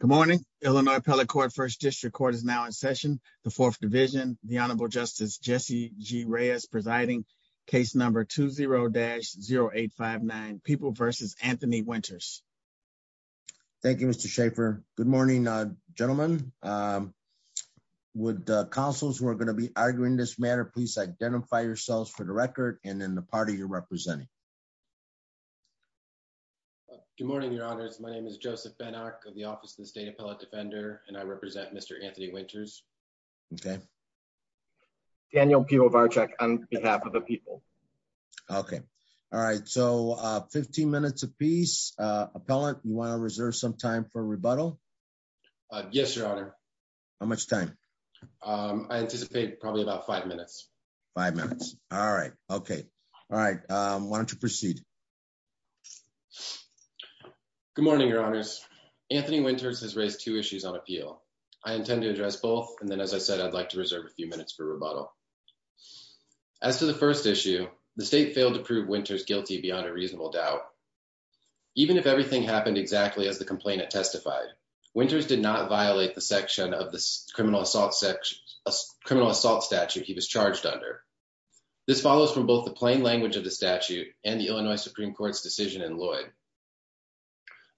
Good morning. Illinois Appellate Court, First District Court is now in session. The Fourth Division, the Honorable Justice Jesse G. Reyes presiding, case number 20-0859, People v. Anthony Winters. Thank you, Mr. Schaffer. Good morning, gentlemen. Would the counsels who are going to be arguing this matter please identify yourselves for the record and then the party you're representing. Good morning, Your Honors. My name is Joseph Ben-Ark of the Office of the State Appellate Defender, and I represent Mr. Anthony Winters. Okay. Daniel Pivovarczyk on behalf of the people. Okay. All right. So 15 minutes apiece. Appellant, you want to reserve some time for rebuttal? Yes, Your Honor. How much time? I anticipate probably about five minutes. Five minutes. All right. Okay. All right. Why don't you proceed? Good morning, Your Honors. Anthony Winters has raised two issues on appeal. I intend to address both. And then, as I said, I'd like to reserve a few minutes for rebuttal. As to the first issue, the state failed to prove Winters guilty beyond a reasonable doubt. Even if everything happened exactly as the complainant testified, Winters did not violate the section of the criminal assault statute he was charged under. This follows from both the plain language of the statute and the Illinois Supreme Court's decision in Lloyd.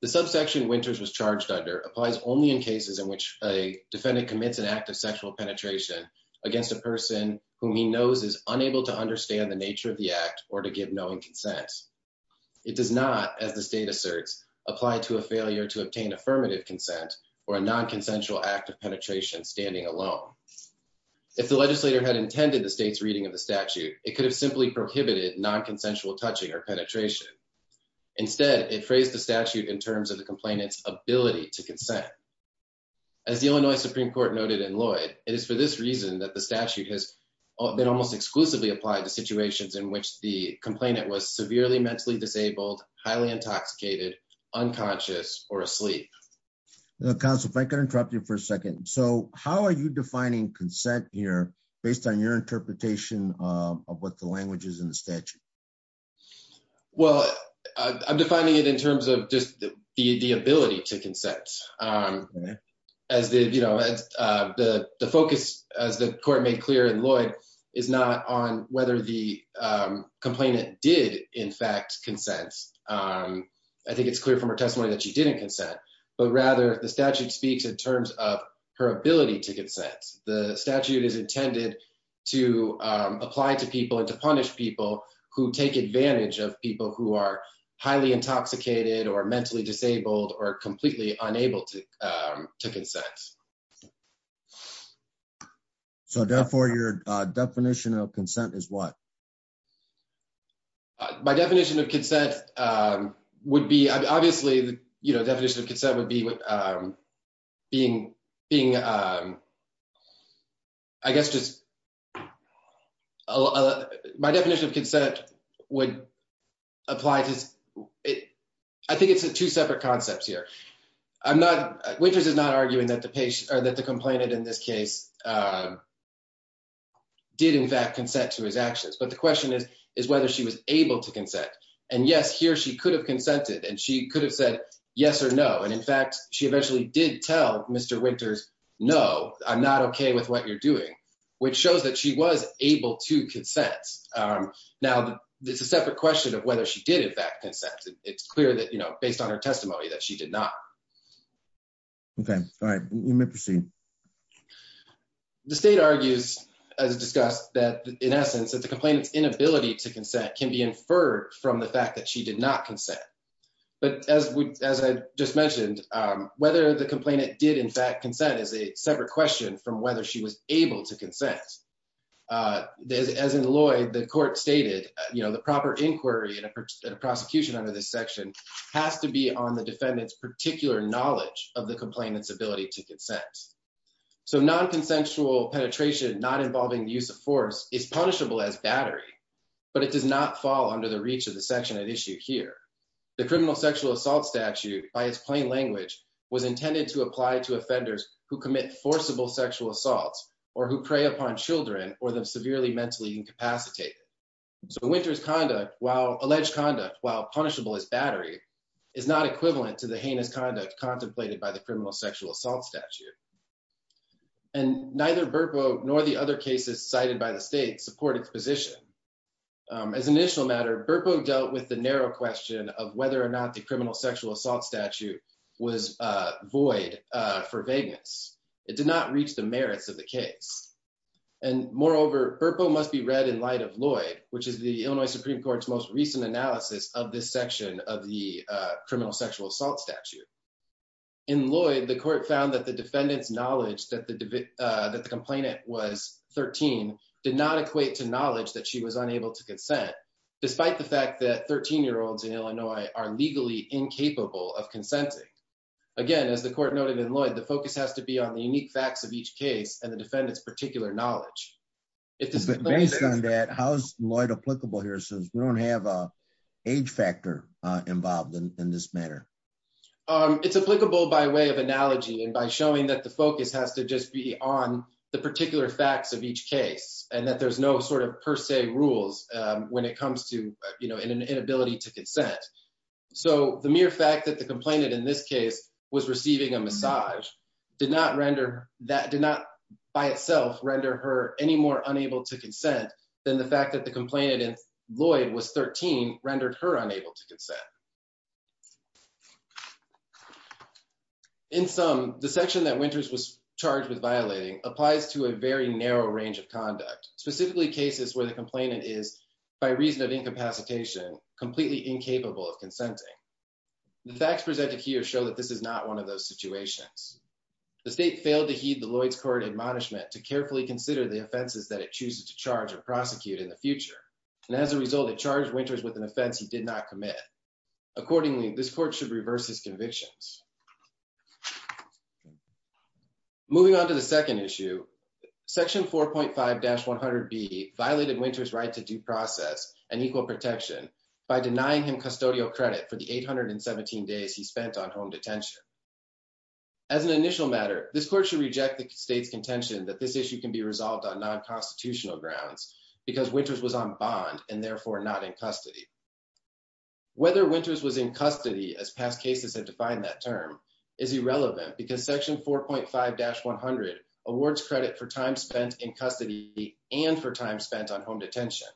The subsection Winters was charged under applies only in cases in which a defendant commits an act of sexual penetration against a person whom he knows is unable to understand the nature of the act or to give knowing consent. It does not, as the state asserts, apply to a failure to obtain affirmative consent or a non-consensual act of penetration standing alone. If the legislator had intended the state's reading of the statute, it could have simply prohibited non-consensual touching or penetration. Instead, it phrased the statute in terms of the complainant's ability to consent. As the Illinois Supreme Court noted in Lloyd, it is for this reason that the statute has been almost exclusively applied to situations in which the complainant was severely mentally disabled, highly intoxicated, unconscious, or asleep. Counsel, if I could interrupt you for a second. So, how are you defining consent here based on your interpretation of what the language is in the statute? Well, I'm defining it in terms of just the ability to consent. The focus, as the court made clear in Lloyd, is not on whether the complainant did, in fact, consent. I think it's clear from her testimony that she didn't consent, but rather the statute speaks in terms of her ability to consent. The statute is intended to apply to people and to punish people who take advantage of people who are highly intoxicated or mentally disabled or completely unable to consent. So, therefore, your definition of consent is what? My definition of consent would be, obviously, you know, definition of consent would be being, I guess, just, my definition of consent would apply to, I think it's two separate concepts here. Winters is not arguing that the complainant in this case did, in fact, consent to his actions, but the question is whether she was able to consent. And yes, here she could have consented, and she could have said yes or no. And in fact, she eventually did tell Mr. Winters, no, I'm not okay with what you're doing, which shows that she was able to consent. Now, it's a separate question of whether she did, in fact, consent. It's clear that, you know, her testimony that she did not. Okay. All right. You may proceed. The state argues, as discussed, that, in essence, that the complainant's inability to consent can be inferred from the fact that she did not consent. But as I just mentioned, whether the complainant did, in fact, consent is a separate question from whether she was able to consent. As in Lloyd, the court stated, you know, the proper inquiry in a prosecution under this section has to be on the defendant's particular knowledge of the complainant's ability to consent. So non-consensual penetration not involving the use of force is punishable as battery, but it does not fall under the reach of the section at issue here. The criminal sexual assault statute, by its plain language, was intended to apply to offenders who commit forcible sexual assaults or who prey upon children or them severely mentally incapacitated. So a winter's conduct, while alleged conduct, while punishable as battery, is not equivalent to the heinous conduct contemplated by the criminal sexual assault statute. And neither Burpo nor the other cases cited by the state support its position. As an initial matter, Burpo dealt with the narrow question of whether or not the criminal sexual assault statute was void for vagueness. It did not reach the merits of the case. And moreover, Burpo must be read in light of Lloyd, which is the Illinois Supreme Court's most recent analysis of this section of the criminal sexual assault statute. In Lloyd, the court found that the defendant's knowledge that the complainant was 13 did not equate to knowledge that she was unable to consent, despite the fact that 13-year-olds in Illinois are legally incapable of consenting. Again, as the court noted in Lloyd, the focus has be on the unique facts of each case and the defendant's particular knowledge. Based on that, how is Lloyd applicable here since we don't have an age factor involved in this matter? It's applicable by way of analogy and by showing that the focus has to just be on the particular facts of each case and that there's no sort of per se rules when it comes to, you know, an inability to consent. So the mere fact the complainant in this case was receiving a massage did not by itself render her any more unable to consent than the fact that the complainant in Lloyd was 13 rendered her unable to consent. In sum, the section that Winters was charged with violating applies to a very narrow range of conduct, specifically cases where the complainant is, by reason of incapacitation, completely incapable of consenting. The facts presented here show that this is not one of those situations. The state failed to heed the Lloyd's Court admonishment to carefully consider the offenses that it chooses to charge or prosecute in the future, and as a result, it charged Winters with an offense he did not commit. Accordingly, this court should reverse his convictions. Moving on to the second issue, section 4.5-100B violated Winters' right to due and equal protection by denying him custodial credit for the 817 days he spent on home detention. As an initial matter, this court should reject the state's contention that this issue can be resolved on non-constitutional grounds because Winters was on bond and therefore not in custody. Whether Winters was in custody, as past cases have defined that term, is irrelevant because section 4.5-100 awards credit for time spent in custody and for time spent on home detention.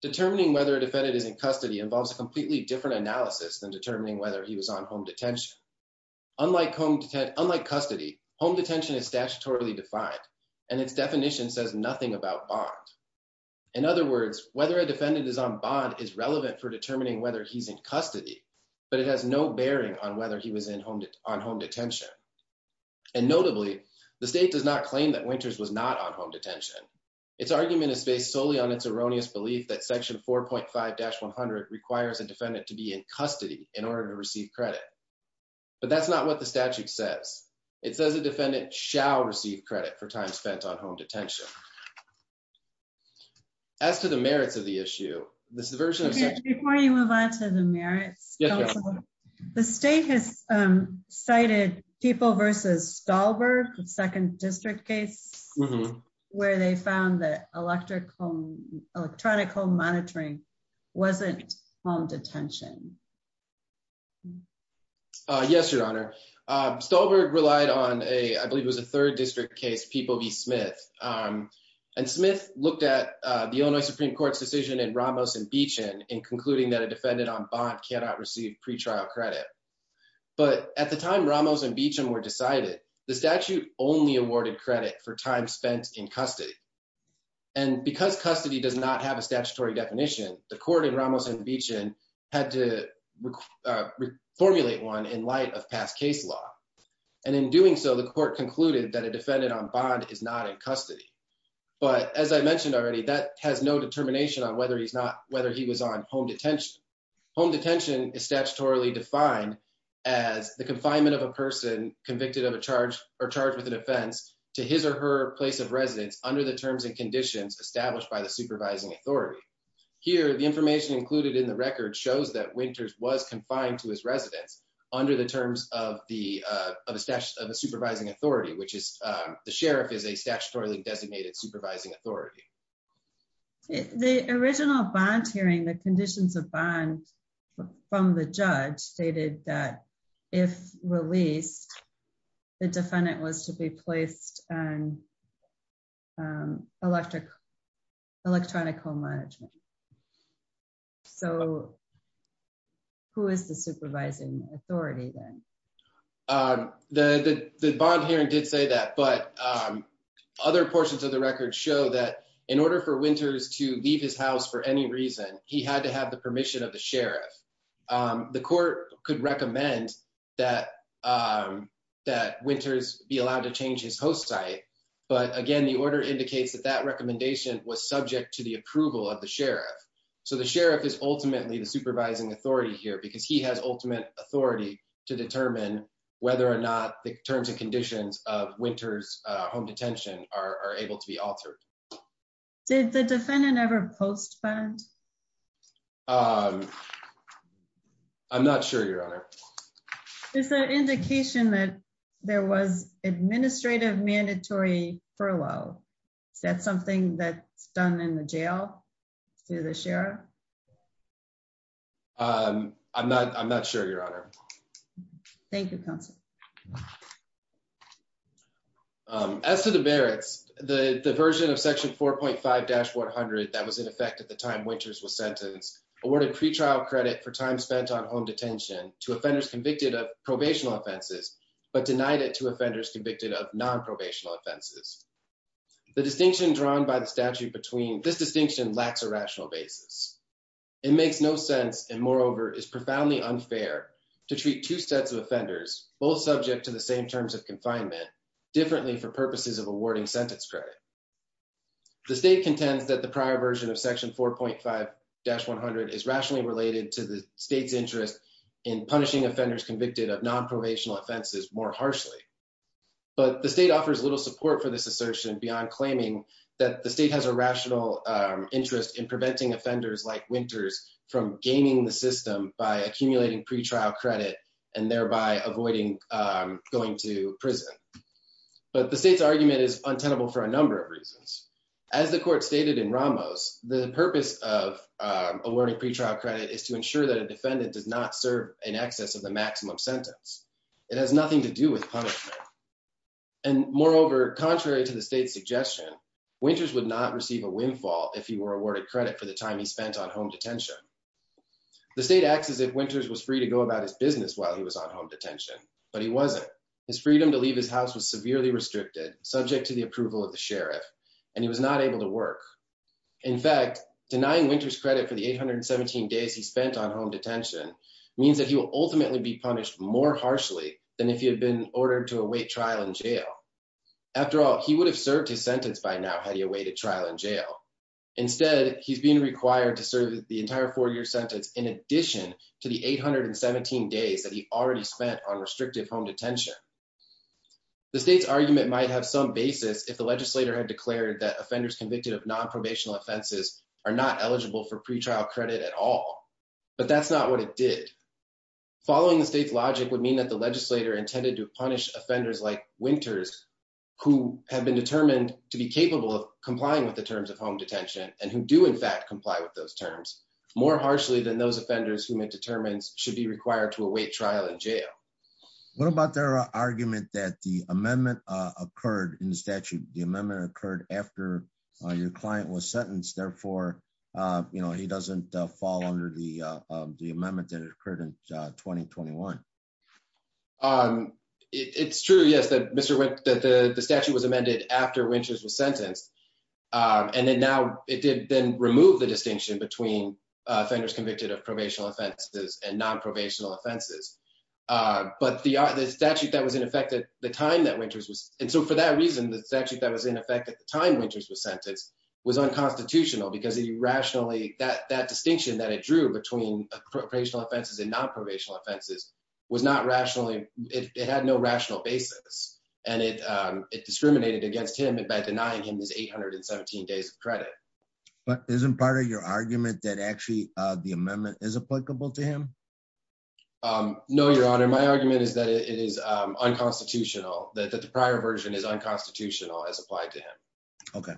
Determining whether a defendant is in custody involves a completely different analysis than determining whether he was on home detention. Unlike custody, home detention is statutorily defined, and its definition says nothing about bond. In other words, whether a defendant is on bond is relevant for determining whether he's in custody, but it has no bearing on whether he was on home detention. And notably, the state does not claim that Winters was not on home detention. Its argument is based solely on its erroneous belief that section 4.5-100 requires a defendant to be in custody in order to receive credit, but that's not what the statute says. It says a defendant shall receive credit for time spent on home detention. As to the merits of the issue, this version of the statute... Before you move on to the merits, the state has cited People v. Stolberg, the second district case, where they found that electronic home monitoring wasn't home detention. Yes, Your Honor. Stolberg relied on a, I believe it was a third district case, People v. Smith. And Smith looked at the Illinois Supreme Court's decision in Ramos and Beechin in concluding that a defendant on bond cannot receive pretrial credit. But at the time, Ramos and Beechin were decided, the statute only awarded credit for time spent in custody. And because custody does not have a statutory definition, the court in Ramos and Beechin had to formulate one in light of past case law. And in doing so, the court concluded that a defendant on bond is not in custody. But as I mentioned already, that has no determination on whether he was on home detention. Home detention is statutorily defined as the release of a person convicted of a charge or charged with an offense to his or her place of residence under the terms and conditions established by the supervising authority. Here, the information included in the record shows that Winters was confined to his residence under the terms of a supervising authority, which is... The sheriff is a statutorily designated supervising authority. The original bond hearing, the conditions of bond from the judge stated that if released, the defendant was to be placed on electronic home management. So who is the supervising authority then? The bond hearing did say that, but other portions of the record show that in order for Winters to leave his house for any reason, he had to have the permission of the sheriff. The court could recommend that Winters be allowed to change his host site. But again, the order indicates that that recommendation was subject to the approval of the sheriff. So the sheriff is ultimately the supervising authority here because he has ultimate authority to determine whether or not the terms and conditions of his or her house were to be changed. Is there an indication that there was an administrative mandatory furlough? Is that something that's done in the jail through the sheriff? I'm not sure, your honor. Thank you, counsel. As to the Barrett's, the version of section 4.5-100 that was in effect at the time Winters was sentenced awarded pretrial credit for time spent on home detention to offenders convicted of probational offenses, but denied it to offenders convicted of non-probational offenses. The distinction drawn by the statute between this distinction lacks a rational basis. It makes no sense and moreover is profoundly unfair to treat two sets of offenders, both subject to the same terms of confinement, differently for purposes of awarding sentence credit. The state contends that the prior version of section 4.5-100 is rationally related to the state's interest in punishing offenders convicted of non-probational offenses more harshly. But the state offers little support for this assertion beyond claiming that the state has a rational interest in preventing offenders like Winters from gaining the system by accumulating pretrial credit and thereby avoiding going to prison. But the state's argument is untenable for a number of reasons. As the court stated in Ramos, the purpose of awarding pretrial credit is to ensure that a defendant does not serve in excess of the maximum sentence. It has nothing to do with punishment. And moreover, contrary to the state's suggestion, Winters would not receive a windfall if he were awarded credit for the time he spent on home detention. The state acts as if Winters was free to go about his business while he was on home detention, but he wasn't. His freedom to leave his house was severely restricted, subject to the approval of the sheriff, and he was not able to work. In fact, denying Winters credit for the 817 days he spent on home detention means that he will ultimately be punished more harshly than if he had been ordered to await trial in jail. After all, he would have served his sentence by now had he awaited trial in jail. Instead, he's being required to serve the entire four-year sentence in addition to the 817 days that he already spent on restrictive home detention. The state's argument might have some basis if the legislator had declared that offenders convicted of non-probational offenses are not eligible for pretrial credit at all. But that's not what it did. Following the state's logic would mean that the legislator intended to punish offenders like Winters who have been determined to be capable of complying with the terms of home detention, and who do in fact comply with those terms, more harshly than those offenders whom it determines should be required to await trial in jail. What about their argument that the amendment occurred in statute, the amendment occurred after your client was sentenced, therefore he doesn't fall under the amendment that occurred in 2021? It's true, yes, that the statute was amended after Winters was sentenced, and then now it did then remove the distinction between offenders convicted of probational offenses and non-probational offenses. But the statute that was in effect at the time that Winters was, and so for that reason, the statute that was in effect at the time Winters was sentenced was unconstitutional because he rationally, that distinction that it drew between probational offenses and non-probational offenses was not rationally, it had no rational basis, and it discriminated against him by denying him his 817 days of credit. But isn't part of your argument that actually the amendment is applicable to him? No, your honor, my argument is that it is unconstitutional, that the prior version is unconstitutional as applied to him. Okay.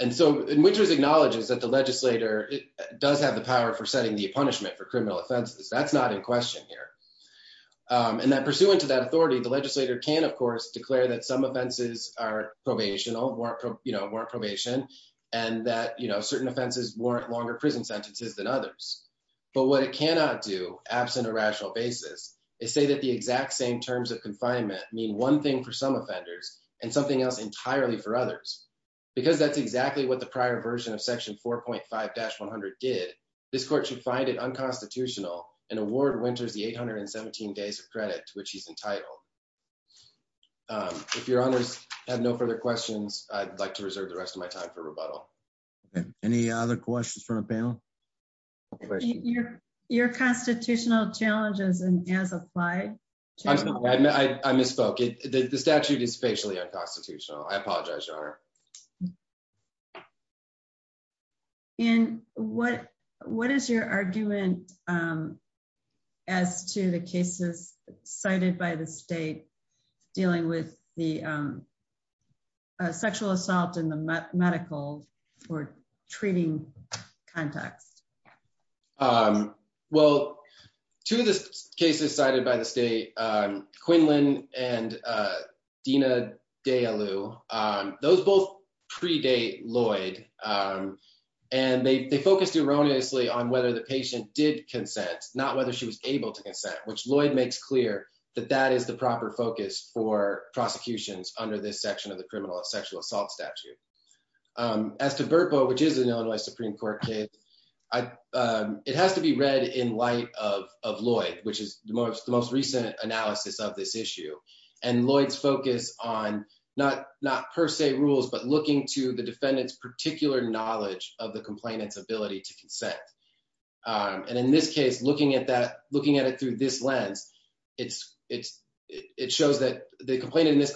And so Winters acknowledges that the legislator does have the power for setting the punishment for criminal offenses. That's not in question here. And that pursuant to that authority, the legislator can, of course, declare that some offenses are probational, warrant probation, and that certain offenses warrant longer prison sentences than others. But what it cannot do, absent a rational basis, is say that the exact same terms of confinement mean one thing for some offenders and something else entirely for others. Because that's exactly what the prior version of section 4.5-100 did, this court should find it unconstitutional and award Winters the 817 days of credit to which he's entitled. If your honors have no further questions, I'd like to reserve the rest of my time for rebuttal. Any other questions from the panel? Your constitutional challenges as applied? I misspoke. I apologize, your honor. And what is your argument as to the cases cited by the state dealing with the sexual assault in the medical or treating context? Um, well, two of the cases cited by the state, Quinlan and Dina Dayaloo, those both predate Lloyd. And they focused erroneously on whether the patient did consent, not whether she was able to consent, which Lloyd makes clear that that is the proper focus for prosecutions under this section of the criminal sexual assault statute. As to Burpo, which is an Illinois Supreme Court case, it has to be read in light of Lloyd, which is the most recent analysis of this issue. And Lloyd's focus on not per se rules, but looking to the defendant's particular knowledge of the complainant's ability to consent. And in this case, looking at it through this lens, it shows that the complainant in this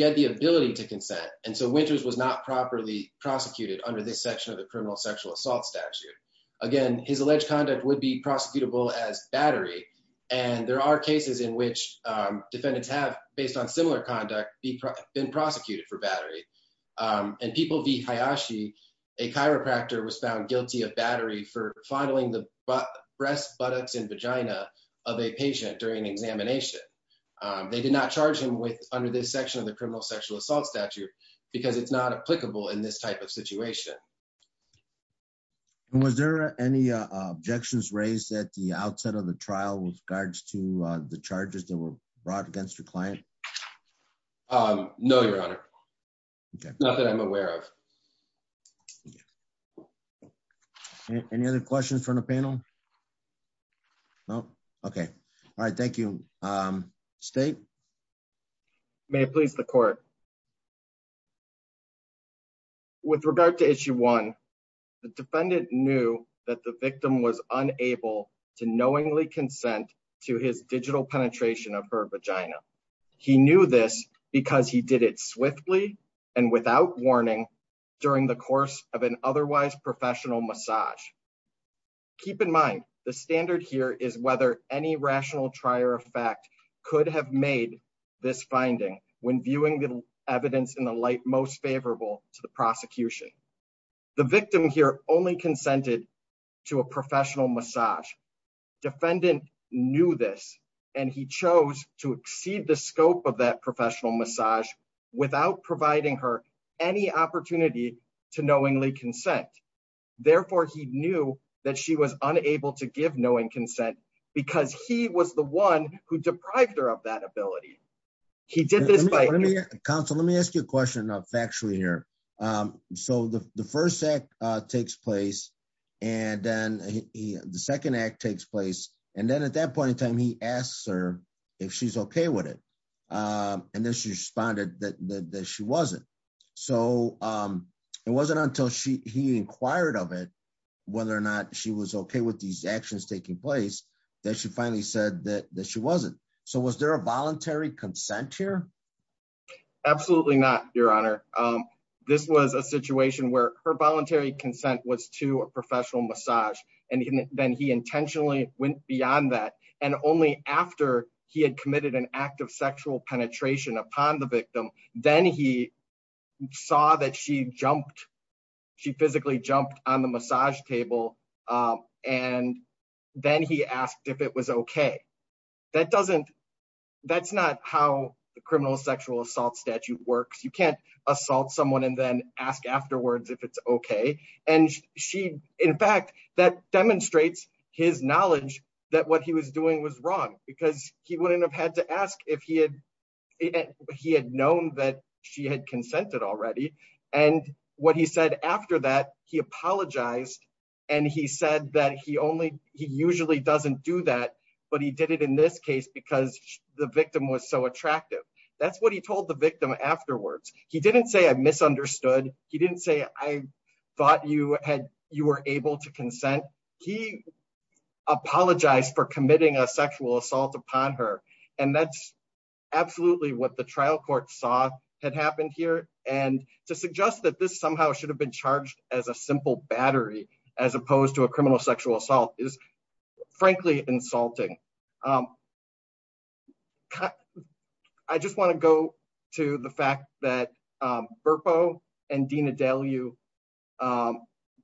had the ability to consent. And so Winters was not properly prosecuted under this section of the criminal sexual assault statute. Again, his alleged conduct would be prosecutable as battery. And there are cases in which defendants have, based on similar conduct, been prosecuted for battery. And People v. Hayashi, a chiropractor was found guilty of battery for fondling the breast, buttocks, and vagina of a patient during examination. They did not charge him with under this section of the criminal sexual assault statute, because it's not applicable in this type of situation. And was there any objections raised at the outset of the trial with regards to the charges that were brought against your client? No, Your Honor. Not that I'm aware of. Any other questions from the panel? No. Okay. All right. Thank you. State. May it please the court. With regard to issue one, the defendant knew that the victim was unable to knowingly consent to his digital penetration of her vagina. He knew this because he did it swiftly and without warning during the course of an otherwise professional massage. Keep in mind, the standard here is whether any rational trier of fact could have made this finding when viewing the evidence in the light most favorable to the prosecution. The victim here only consented to a professional massage. Defendant knew this, and he chose to exceed the scope of that professional massage without providing her any opportunity to knowingly consent. Therefore, he knew that she was unable to give knowing consent because he was the one who deprived her of that ability. He did this by- Counsel, let me ask you a question factually here. So the first act takes place, and then the second act takes place. And then at that point in time, he asks her if she's okay with it. And then she responded that she wasn't. So it wasn't until he inquired of it, whether or not she was okay with these actions taking place, that she finally said that she wasn't. So was there a voluntary consent here? Absolutely not, Your Honor. This was a situation where her voluntary consent was to a professional massage, and then he intentionally went beyond that. And only after he had committed an act of sexual penetration upon the victim, then he saw that she physically jumped on the massage table, and then he asked if it was okay. That's not how the criminal sexual assault statute works. You can't assault someone and then ask afterwards if it's okay. And in fact, that demonstrates his knowledge that what he was doing was wrong, because he wouldn't have had to ask if he had known that she had consented already. And what he said after that, he apologized, and he said that he usually doesn't do that, but he did it in this case because the victim was so attractive. That's what he told the victim afterwards. He didn't say, I misunderstood. He didn't say, I thought you were able to consent. He apologized for committing a sexual assault upon her. And that's absolutely what the trial court saw had happened here. And to suggest that this somehow should have been charged as a simple battery, as opposed to a criminal sexual assault, is frankly insulting. I just want to go to the fact that Berpo and Dina Deleu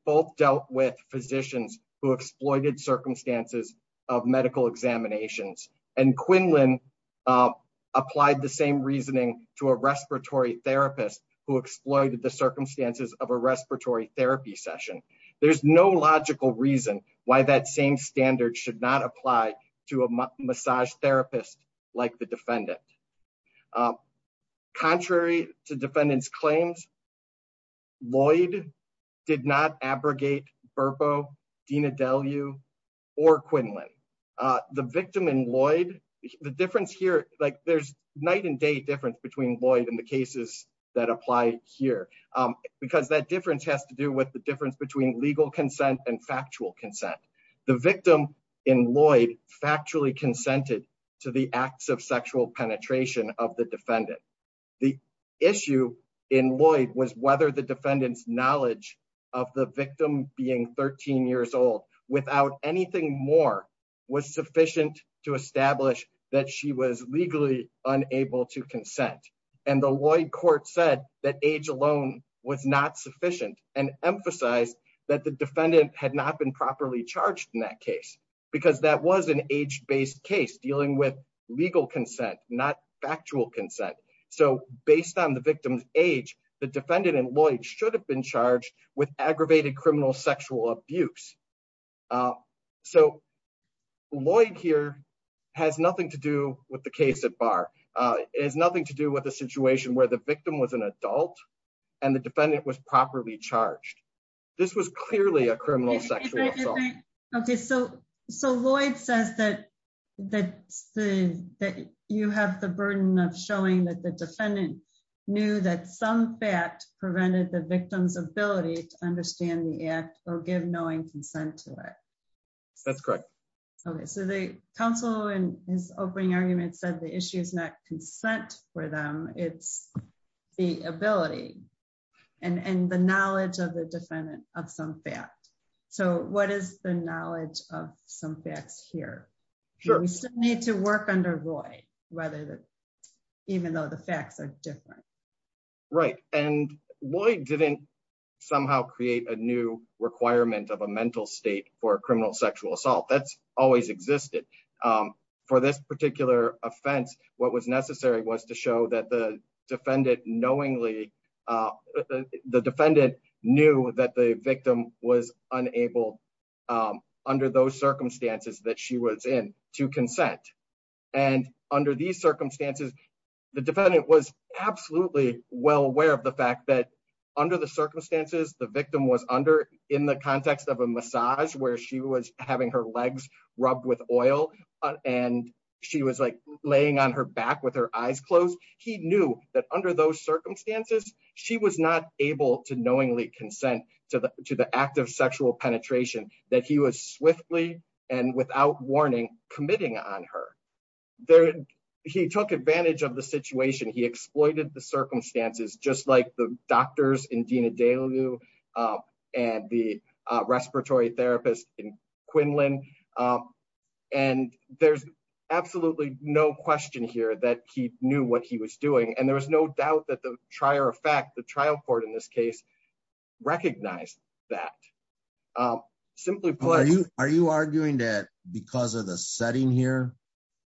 both dealt with physicians who exploited circumstances of medical examinations. And Quinlan applied the same reasoning to a respiratory therapist who exploited the circumstances of a respiratory therapy session. There's no logical reason why that same standard should not apply to a medical examiner. To a massage therapist like the defendant. Contrary to defendant's claims, Lloyd did not abrogate Berpo, Dina Deleu, or Quinlan. The victim in Lloyd, the difference here, like there's night and day difference between Lloyd and the cases that apply here, because that difference has to do with the difference between legal consent and factual consent. The victim in Lloyd factually consented to the acts of sexual penetration of the defendant. The issue in Lloyd was whether the defendant's knowledge of the victim being 13 years old, without anything more, was sufficient to establish that she was legally unable to consent. And the Lloyd court said that age alone was not sufficient and emphasized that the defendant had not been properly charged in that case. Because that was an age-based case dealing with legal consent, not factual consent. So, based on the victim's age, the defendant in Lloyd should have been charged with aggravated criminal sexual abuse. So, Lloyd here has nothing to do with the case at bar. It has nothing to do with a situation where the victim was an adult and the defendant was properly charged. This was clearly a criminal sexual assault. Okay, so Lloyd says that you have the burden of showing that the defendant knew that some fact prevented the victim's ability to understand the act or give knowing consent to it. That's correct. Okay, so the counsel in his opening argument said the issue is not consent for them, it's the ability and the knowledge of the defendant of some fact. So, what is the knowledge of some facts here? We still need to work under Lloyd, even though the facts are different. Right, and Lloyd didn't somehow create a new requirement of a mental state for criminal sexual assault. That's always existed. For this particular offense, what was necessary was to show that the defendant knowingly, the defendant knew that the victim was unable under those circumstances that she was in to consent. And under these circumstances, the defendant was absolutely well aware of the fact that under the circumstances, the victim was under in the context of a massage where she was having her legs rubbed with oil, and she was like laying on her back with her eyes closed. He knew that under those circumstances, she was not able to knowingly consent to the act of sexual penetration that he was swiftly and without warning committing on her. He took advantage of the situation, he exploited the circumstances, just like the doctors in Lynn, and there's absolutely no question here that he knew what he was doing. And there was no doubt that the trier of fact, the trial court in this case, recognize that simply. Are you arguing that because of the setting here,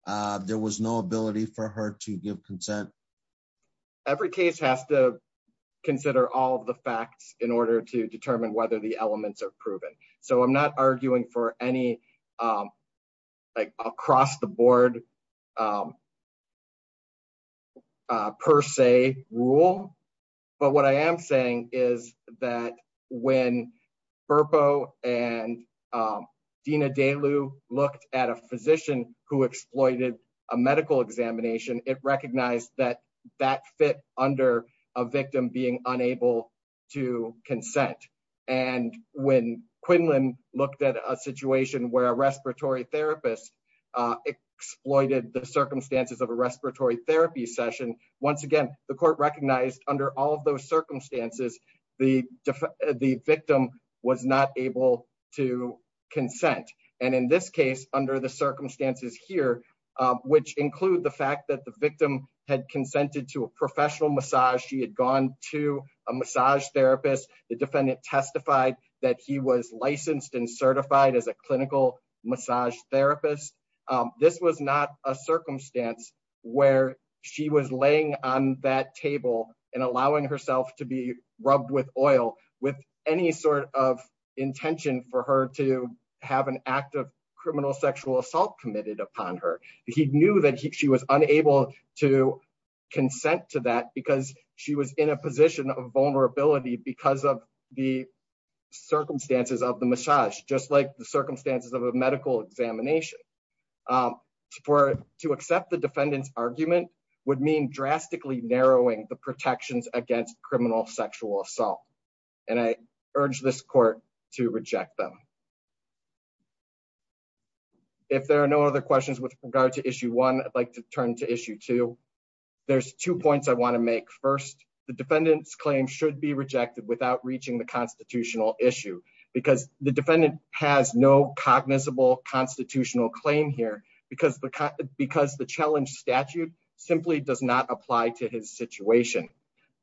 there was no ability for her to give consent? Every case has to consider all of the facts in order to determine whether the elements are proven. So I'm not arguing for any. Across the board. Per se rule. But what I am saying is that when purple and. Dina day Lou looked at a physician who exploited a medical examination, it recognized that that fit under a victim being unable to consent. And when Quinlan looked at a situation where a respiratory therapist exploited the circumstances of a respiratory therapy session, once again, the court recognized under all of those circumstances, the victim was not able to consent. And in this case, under the circumstances here, which include the fact that the victim had consented to a professional massage, she had gone to a massage therapist, the defendant testified that he was licensed and certified as a clinical massage therapist. This was not a circumstance where she was laying on that table and allowing herself to be rubbed with oil with any sort of intention for her to have an act of criminal sexual assault committed upon her. He knew that she was unable to consent to that because she was in a position of vulnerability because of the circumstances of the massage, just like the circumstances of a medical examination. For to accept the defendant's argument would mean drastically narrowing the protections against criminal sexual assault. And I urge this court to reject them. If there are no other questions with regard to issue one, I'd like to turn to issue two. There's two points I want to make. First, the defendant's claim should be rejected without reaching the constitutional issue because the defendant has no cognizable constitutional claim here because the challenge statute simply does not apply to his situation.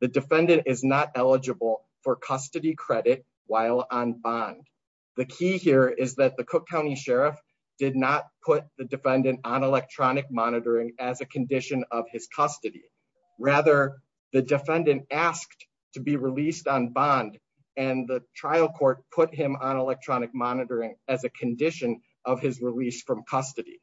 The defendant is not eligible for custody credit while on bond. The key here is that the Cook County Sheriff did not put the defendant on electronic monitoring as a condition of his custody. Rather, the defendant asked to be released on bond and the trial court put him on electronic monitoring as a condition of his release from custody.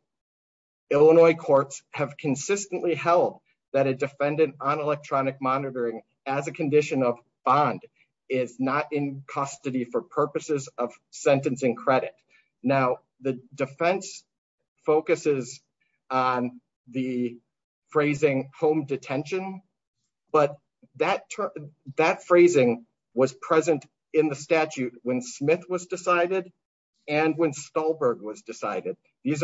Illinois courts have consistently held that a defendant on electronic monitoring as a condition of bond is not in custody for purposes of sentencing credit. Now, the defense focuses on the phrasing home detention, but that phrasing was present in the statute when Smith was decided and when Stolberg was decided. This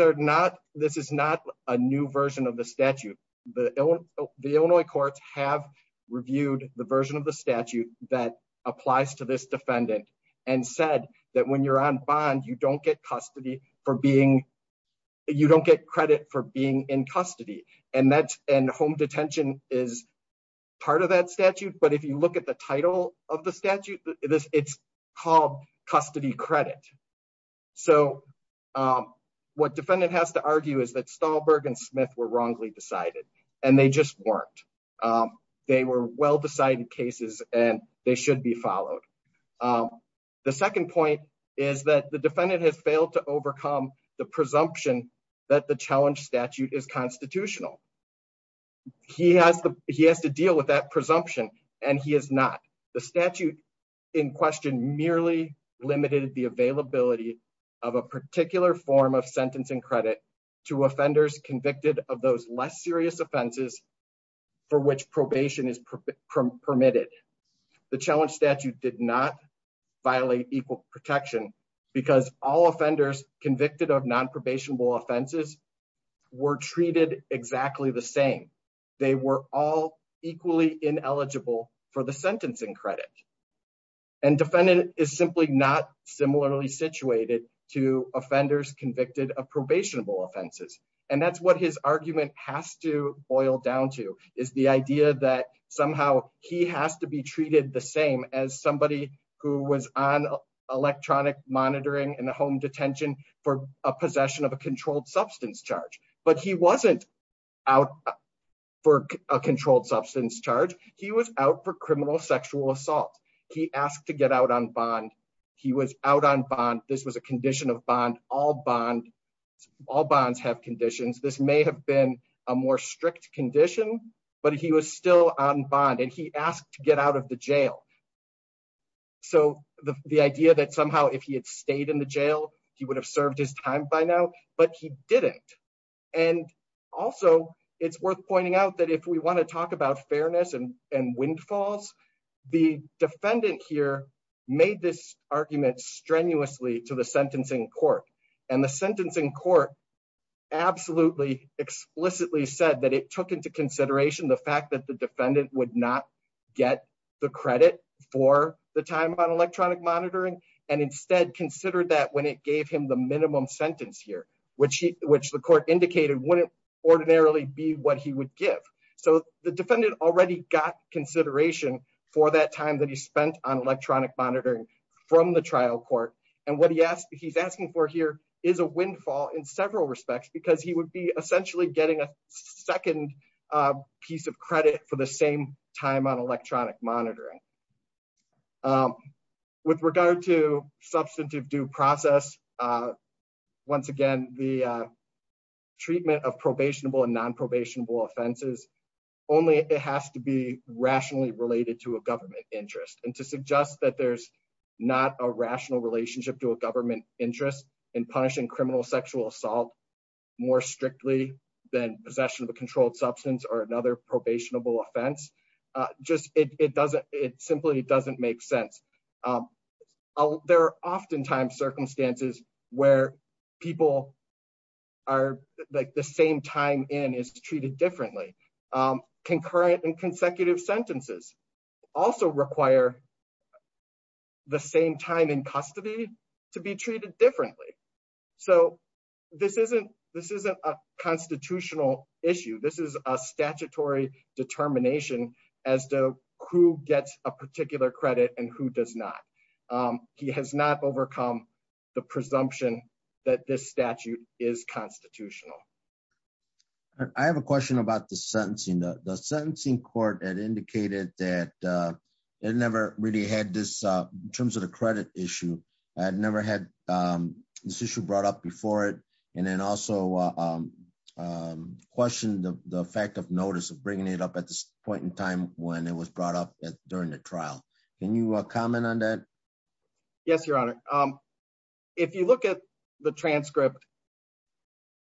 is not a new version of the statute. The Illinois courts have reviewed the version of the statute that applies to this defendant and said that when you're on bond, you don't get credit for being in custody and home detention is part of that statute. But if you look at the title of the statute, it's called custody credit. So what defendant has to argue is that Stolberg and Smith were wrongly decided and they just weren't. They were well-decided cases and they should be followed. The second point is that the defendant has failed to overcome the presumption that the challenge statute is constitutional. He has to deal with that presumption and he has not. The statute in question merely limited the availability of a particular form of sentencing credit to offenders convicted of those less serious offenses for which probation is permitted. The challenge statute did not violate equal protection because all offenders convicted of non-probationable offenses were treated exactly the same. They were all equally ineligible for the sentencing credit and defendant is simply not similarly situated to offenders convicted of probationable offenses. That's what his argument has to boil down to is the idea that somehow he has to be treated the same as somebody who was on electronic monitoring in a home detention for a possession of a controlled substance charge. But he wasn't out for a controlled substance charge. He was out for criminal sexual assault. He asked to get out on bond. He was out on bond. This was a condition of bond. All bonds have conditions. This may have been a more strict condition, but he was still on bond and he asked to get out of the jail. So the idea that somehow if he had stayed in the jail, he would have served his time by now, but he didn't. And also, it's worth pointing out that if we want to talk about fairness and windfalls, the defendant here made this argument strenuously to the sentencing court and the sentencing court absolutely explicitly said that it took into consideration the fact that the defendant would not get the credit for the time on electronic monitoring and instead considered that when it gave him the minimum sentence here, which the court indicated wouldn't ordinarily be what he would give. So the defendant already got consideration for that time that he spent on electronic monitoring from the trial court. And what he's asking for here is a windfall in several respects because he would be essentially getting a second piece of credit for the same time on electronic monitoring. With regard to substantive due process, once again, the treatment of probationable and only it has to be rationally related to a government interest. And to suggest that there's not a rational relationship to a government interest in punishing criminal sexual assault more strictly than possession of a controlled substance or another probationable offense, it simply doesn't make sense. There are oftentimes circumstances where people are like the same time in is treated differently. Concurrent and consecutive sentences also require the same time in custody to be treated differently. So this isn't a constitutional issue. This is a statutory determination as to who gets a particular credit and who does not. He has not overcome the presumption that this statute is constitutional. I have a question about the sentencing. The sentencing court had indicated that it never really had this in terms of the credit issue. I had never had this issue brought up before it. And then also questioned the fact of notice of bringing it up at this point in time when it was brought up during the trial. Can you comment on that? Yes, Your Honor. If you look at the transcript,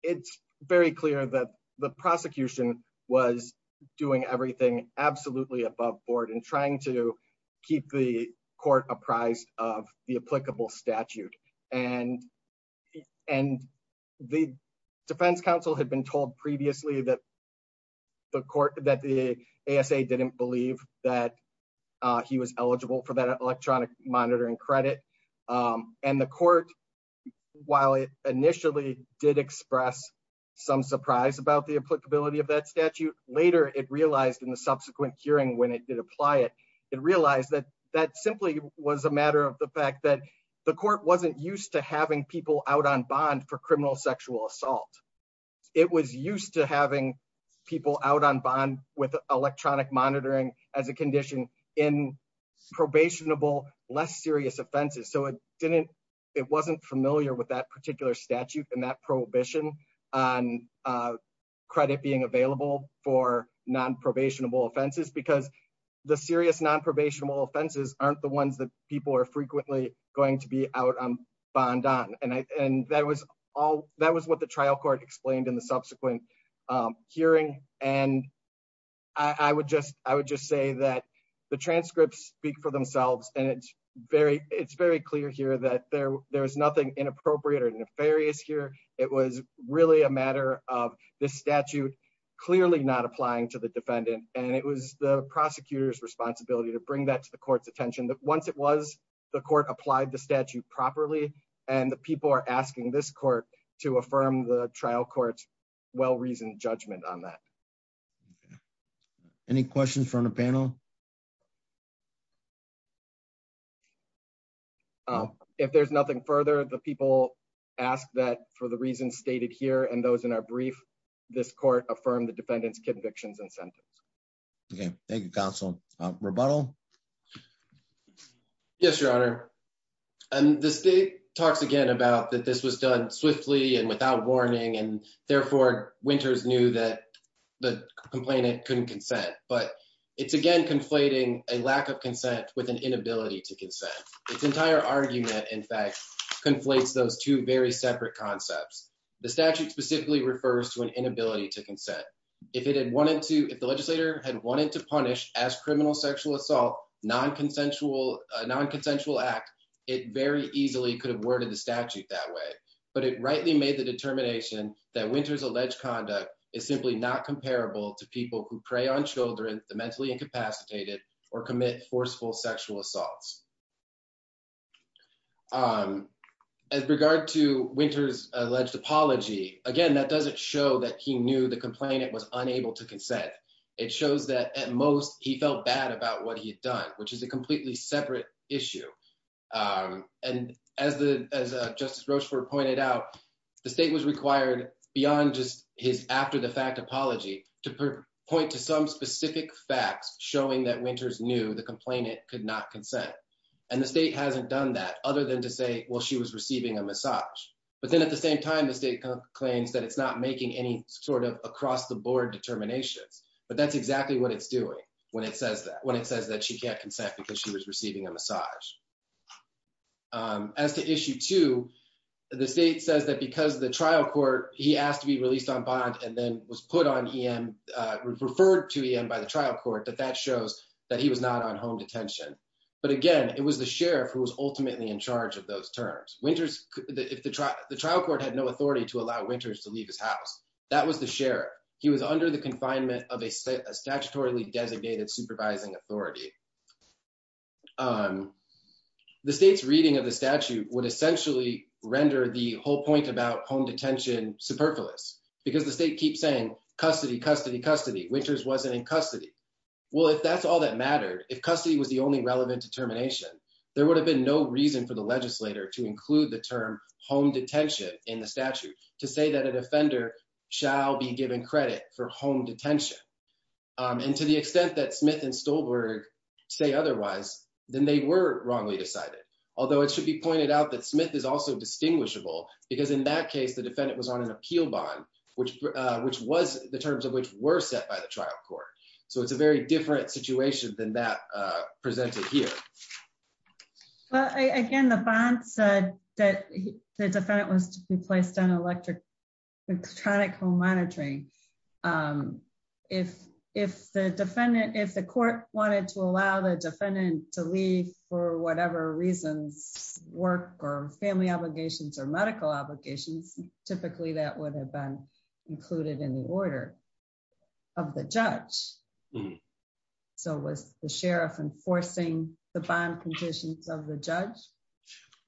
it's very clear that the prosecution was doing everything absolutely above board and trying to keep the court apprised of the applicable statute. And the defense counsel had been told previously that the court that the ASA didn't believe that he was eligible for that electronic monitoring credit. And the court, while it initially did express some surprise about the applicability of that statute, later it realized in the subsequent hearing when it did apply it, it realized that that simply was a matter of the fact that the court wasn't used to having people out on bond for criminal sexual assault. It was used to having people out on bond with electronic monitoring as a condition in probationable, less serious offenses. So it wasn't familiar with that particular statute and that prohibition on credit being available for nonprobationable offenses because the serious nonprobationable offenses aren't the ones that people are frequently going to be out on bond on. And that was what the trial court explained in the subsequent hearing. And I would just say that the transcripts speak for themselves. And it's very clear here that there is nothing inappropriate or nefarious here. It was really a matter of the statute clearly not applying to the defendant. And it was the prosecutor's responsibility to bring that to the court's attention that once it was, the court applied the statute properly and the people are asking this court to affirm the trial court's well-reasoned judgment on that. Okay. Any questions from the panel? If there's nothing further, the people ask that for the reasons stated here and those in our brief, this court affirmed the defendant's convictions and sentence. Okay. Thank you, counsel. Rebuttal? Yes, your honor. And the state talks again about that this was done swiftly and without warning and therefore Winters knew that the complainant couldn't consent. But it's again conflating a lack of consent with an inability to consent. Its entire argument, in fact, conflates those two very separate concepts. The statute specifically refers to an inability to consent. If the legislator had wanted to punish as criminal sexual assault a non-consensual act, it very easily could have worded the statute that way. But it rightly made the determination that Winters' alleged conduct is simply not comparable to people who prey on children, the mentally incapacitated, or commit forceful sexual assaults. As regard to Winters' alleged apology, again, that doesn't show that he knew the complainant was unable to consent. It shows that at most he felt bad about what he had done, which is a completely separate issue. And as Justice Rochefort pointed out, the state was required beyond just his after-the-fact apology to point to some specific facts showing that Winters knew the complainant could not consent. And the state hasn't done that other than to say, well, she was receiving a massage. But then at the same time, the state claims that it's not making any sort of across-the-board determinations. But that's exactly what it's doing when it says that. When it says that she can't consent because she was receiving a massage. As to issue two, the state says that because of the trial court, he asked to be released on bond and then was put on EM, referred to EM by the trial court, that that shows that he was not on home detention. But again, it was the sheriff who was ultimately in charge of those terms. The trial court had no authority to allow Winters to leave his house. That was the sheriff. He was under the confinement of a statutorily designated supervising authority. The state's reading of the statute would essentially render the whole point about home detention superfluous because the state keeps saying custody, custody, custody. Winters wasn't in custody. Well, if that's all that mattered, if custody was the only relevant determination, there would have been no reason for the legislator to include the term home detention in the statute to say that an offender shall be given credit for home detention. And to the extent that Smith and Stolberg say otherwise, then they were wrongly decided. Although it should be pointed out that Smith is also distinguishable because in that case, the defendant was on an appeal bond, which was the terms of which were set by the trial court. So it's a very different situation than that presented here. Again, the bond said that the defendant was to be placed on electronic home monitoring. Um, if, if the defendant, if the court wanted to allow the defendant to leave for whatever reasons, work or family obligations or medical obligations, typically that would have been included in the order of the judge. So was the sheriff enforcing the bond conditions of the judge?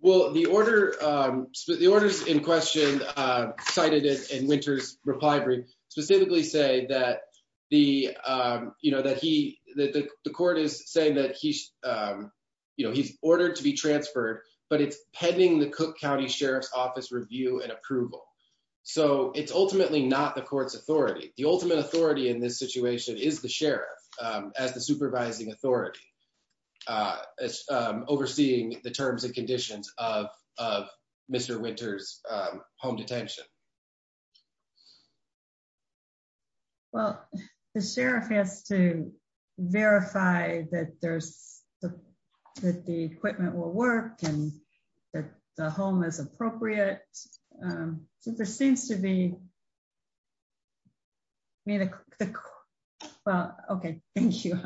Well, the order, um, the orders in question, uh, cited it in winter's reply brief specifically say that the, um, you know, that he, that the court is saying that he's, um, you know, he's ordered to be transferred, but it's pending the Cook County Sheriff's office review and approval. So it's ultimately not the court's authority. The ultimate authority in this situation is the sheriff, um, as the supervising authority, uh, as, um, overseeing the terms and conditions of, of Mr. Winter's, um, home detention. Well, the sheriff has to verify that there's the, that the equipment will work and that the home is appropriate. Um, so there seems to be. Well, okay. Thank you.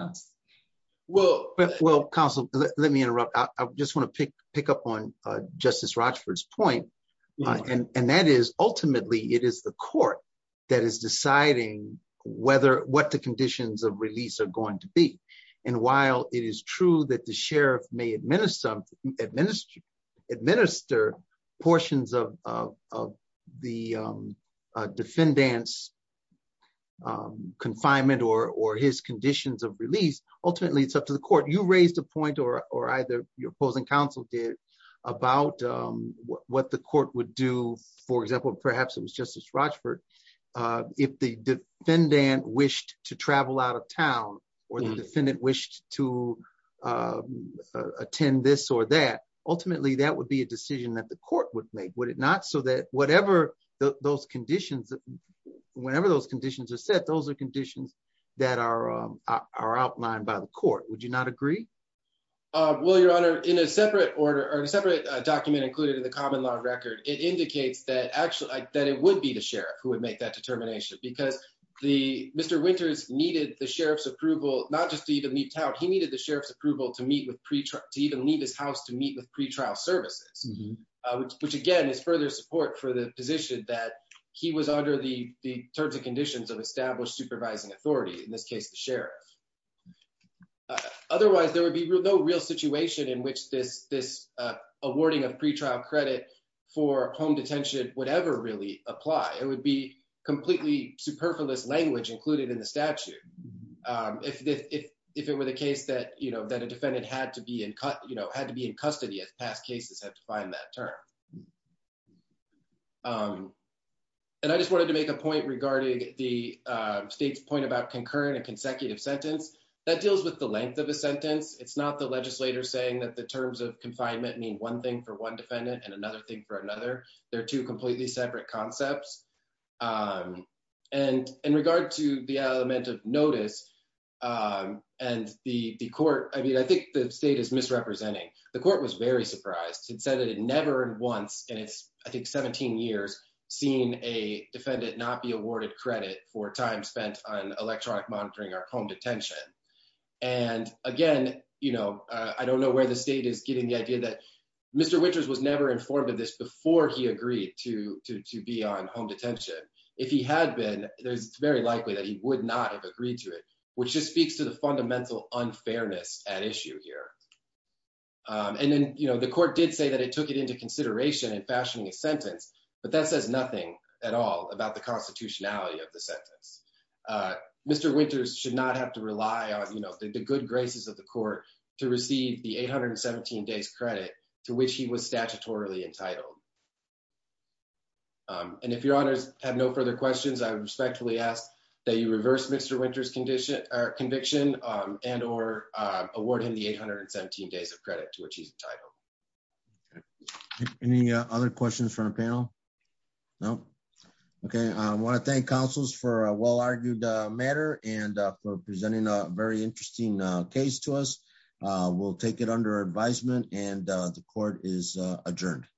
Well, well, counsel, let me interrupt. I just want to pick, pick up on, uh, justice Rochford's point. And that is ultimately, it is the court that is deciding whether what the conditions of release are going to be. And while it is true that the sheriff may administer, administer portions of, of, of the, um, uh, defendants, um, confinement or, or his conditions of release, ultimately it's up to the court. You raised a point or, or either your opposing counsel did about, um, what the court would do. For example, perhaps it was justice Rochford. Uh, if the defendant wished to travel out of town or the defendant wished to, uh, uh, attend this or that ultimately that would be a decision that the court would make, would it not? So that whatever those conditions, whenever those conditions are set, those are conditions that are, um, are outlined by the court. Would you not agree? Uh, well, your honor in a separate order or a separate document included in the common law record, it indicates that actually that it would be the sheriff who would make that determination because the Mr. Winters needed the sheriff's approval, not just to even meet out. He needed the sheriff's approval to meet with pre-trial to even leave his house, to meet with pre-trial services, which again is further support for the position that he was under the terms and conditions of established supervising authority. In this case, the sheriff. Otherwise there would be no real situation in which this, this, uh, awarding of pre-trial credit for home detention, whatever really apply, it would be completely superfluous language included in the statute. Um, if, if, if, if it were the case that, you know, that a defendant had to be in cut, had to be in custody as past cases have defined that term. Um, and I just wanted to make a point regarding the, uh, state's point about concurrent and consecutive sentence that deals with the length of a sentence. It's not the legislator saying that the terms of confinement mean one thing for one defendant and another thing for another. They're two completely separate concepts. Um, and in regard to the element of notice, um, and the court, I mean, I think the state is misrepresenting. The court was very surprised. It said that it never in once, and it's, I think, 17 years seen a defendant not be awarded credit for time spent on electronic monitoring or home detention. And again, you know, uh, I don't know where the state is getting the idea that Mr. Winters was never informed of this before he agreed to, to, to be on home detention. If he had been, there's very likely that he would not have agreed to it, which just speaks to the fundamental unfairness at issue here. Um, and then, you know, the court did say that it took it into consideration and fashioning a sentence, but that says nothing at all about the constitutionality of the sentence. Uh, Mr. Winters should not have to rely on, you know, the good graces of the court to receive the 817 days credit to which he was statutorily entitled. Um, and if your honors have no further questions, I respectfully ask that you reverse Mr. Winters condition or conviction, um, and, or, uh, award him the 817 days of credit to which he's entitled. Any other questions from the panel? No. Okay. I want to thank counsels for a well-argued matter and for presenting a very interesting case to us. We'll take it under advisement and the court is adjourned.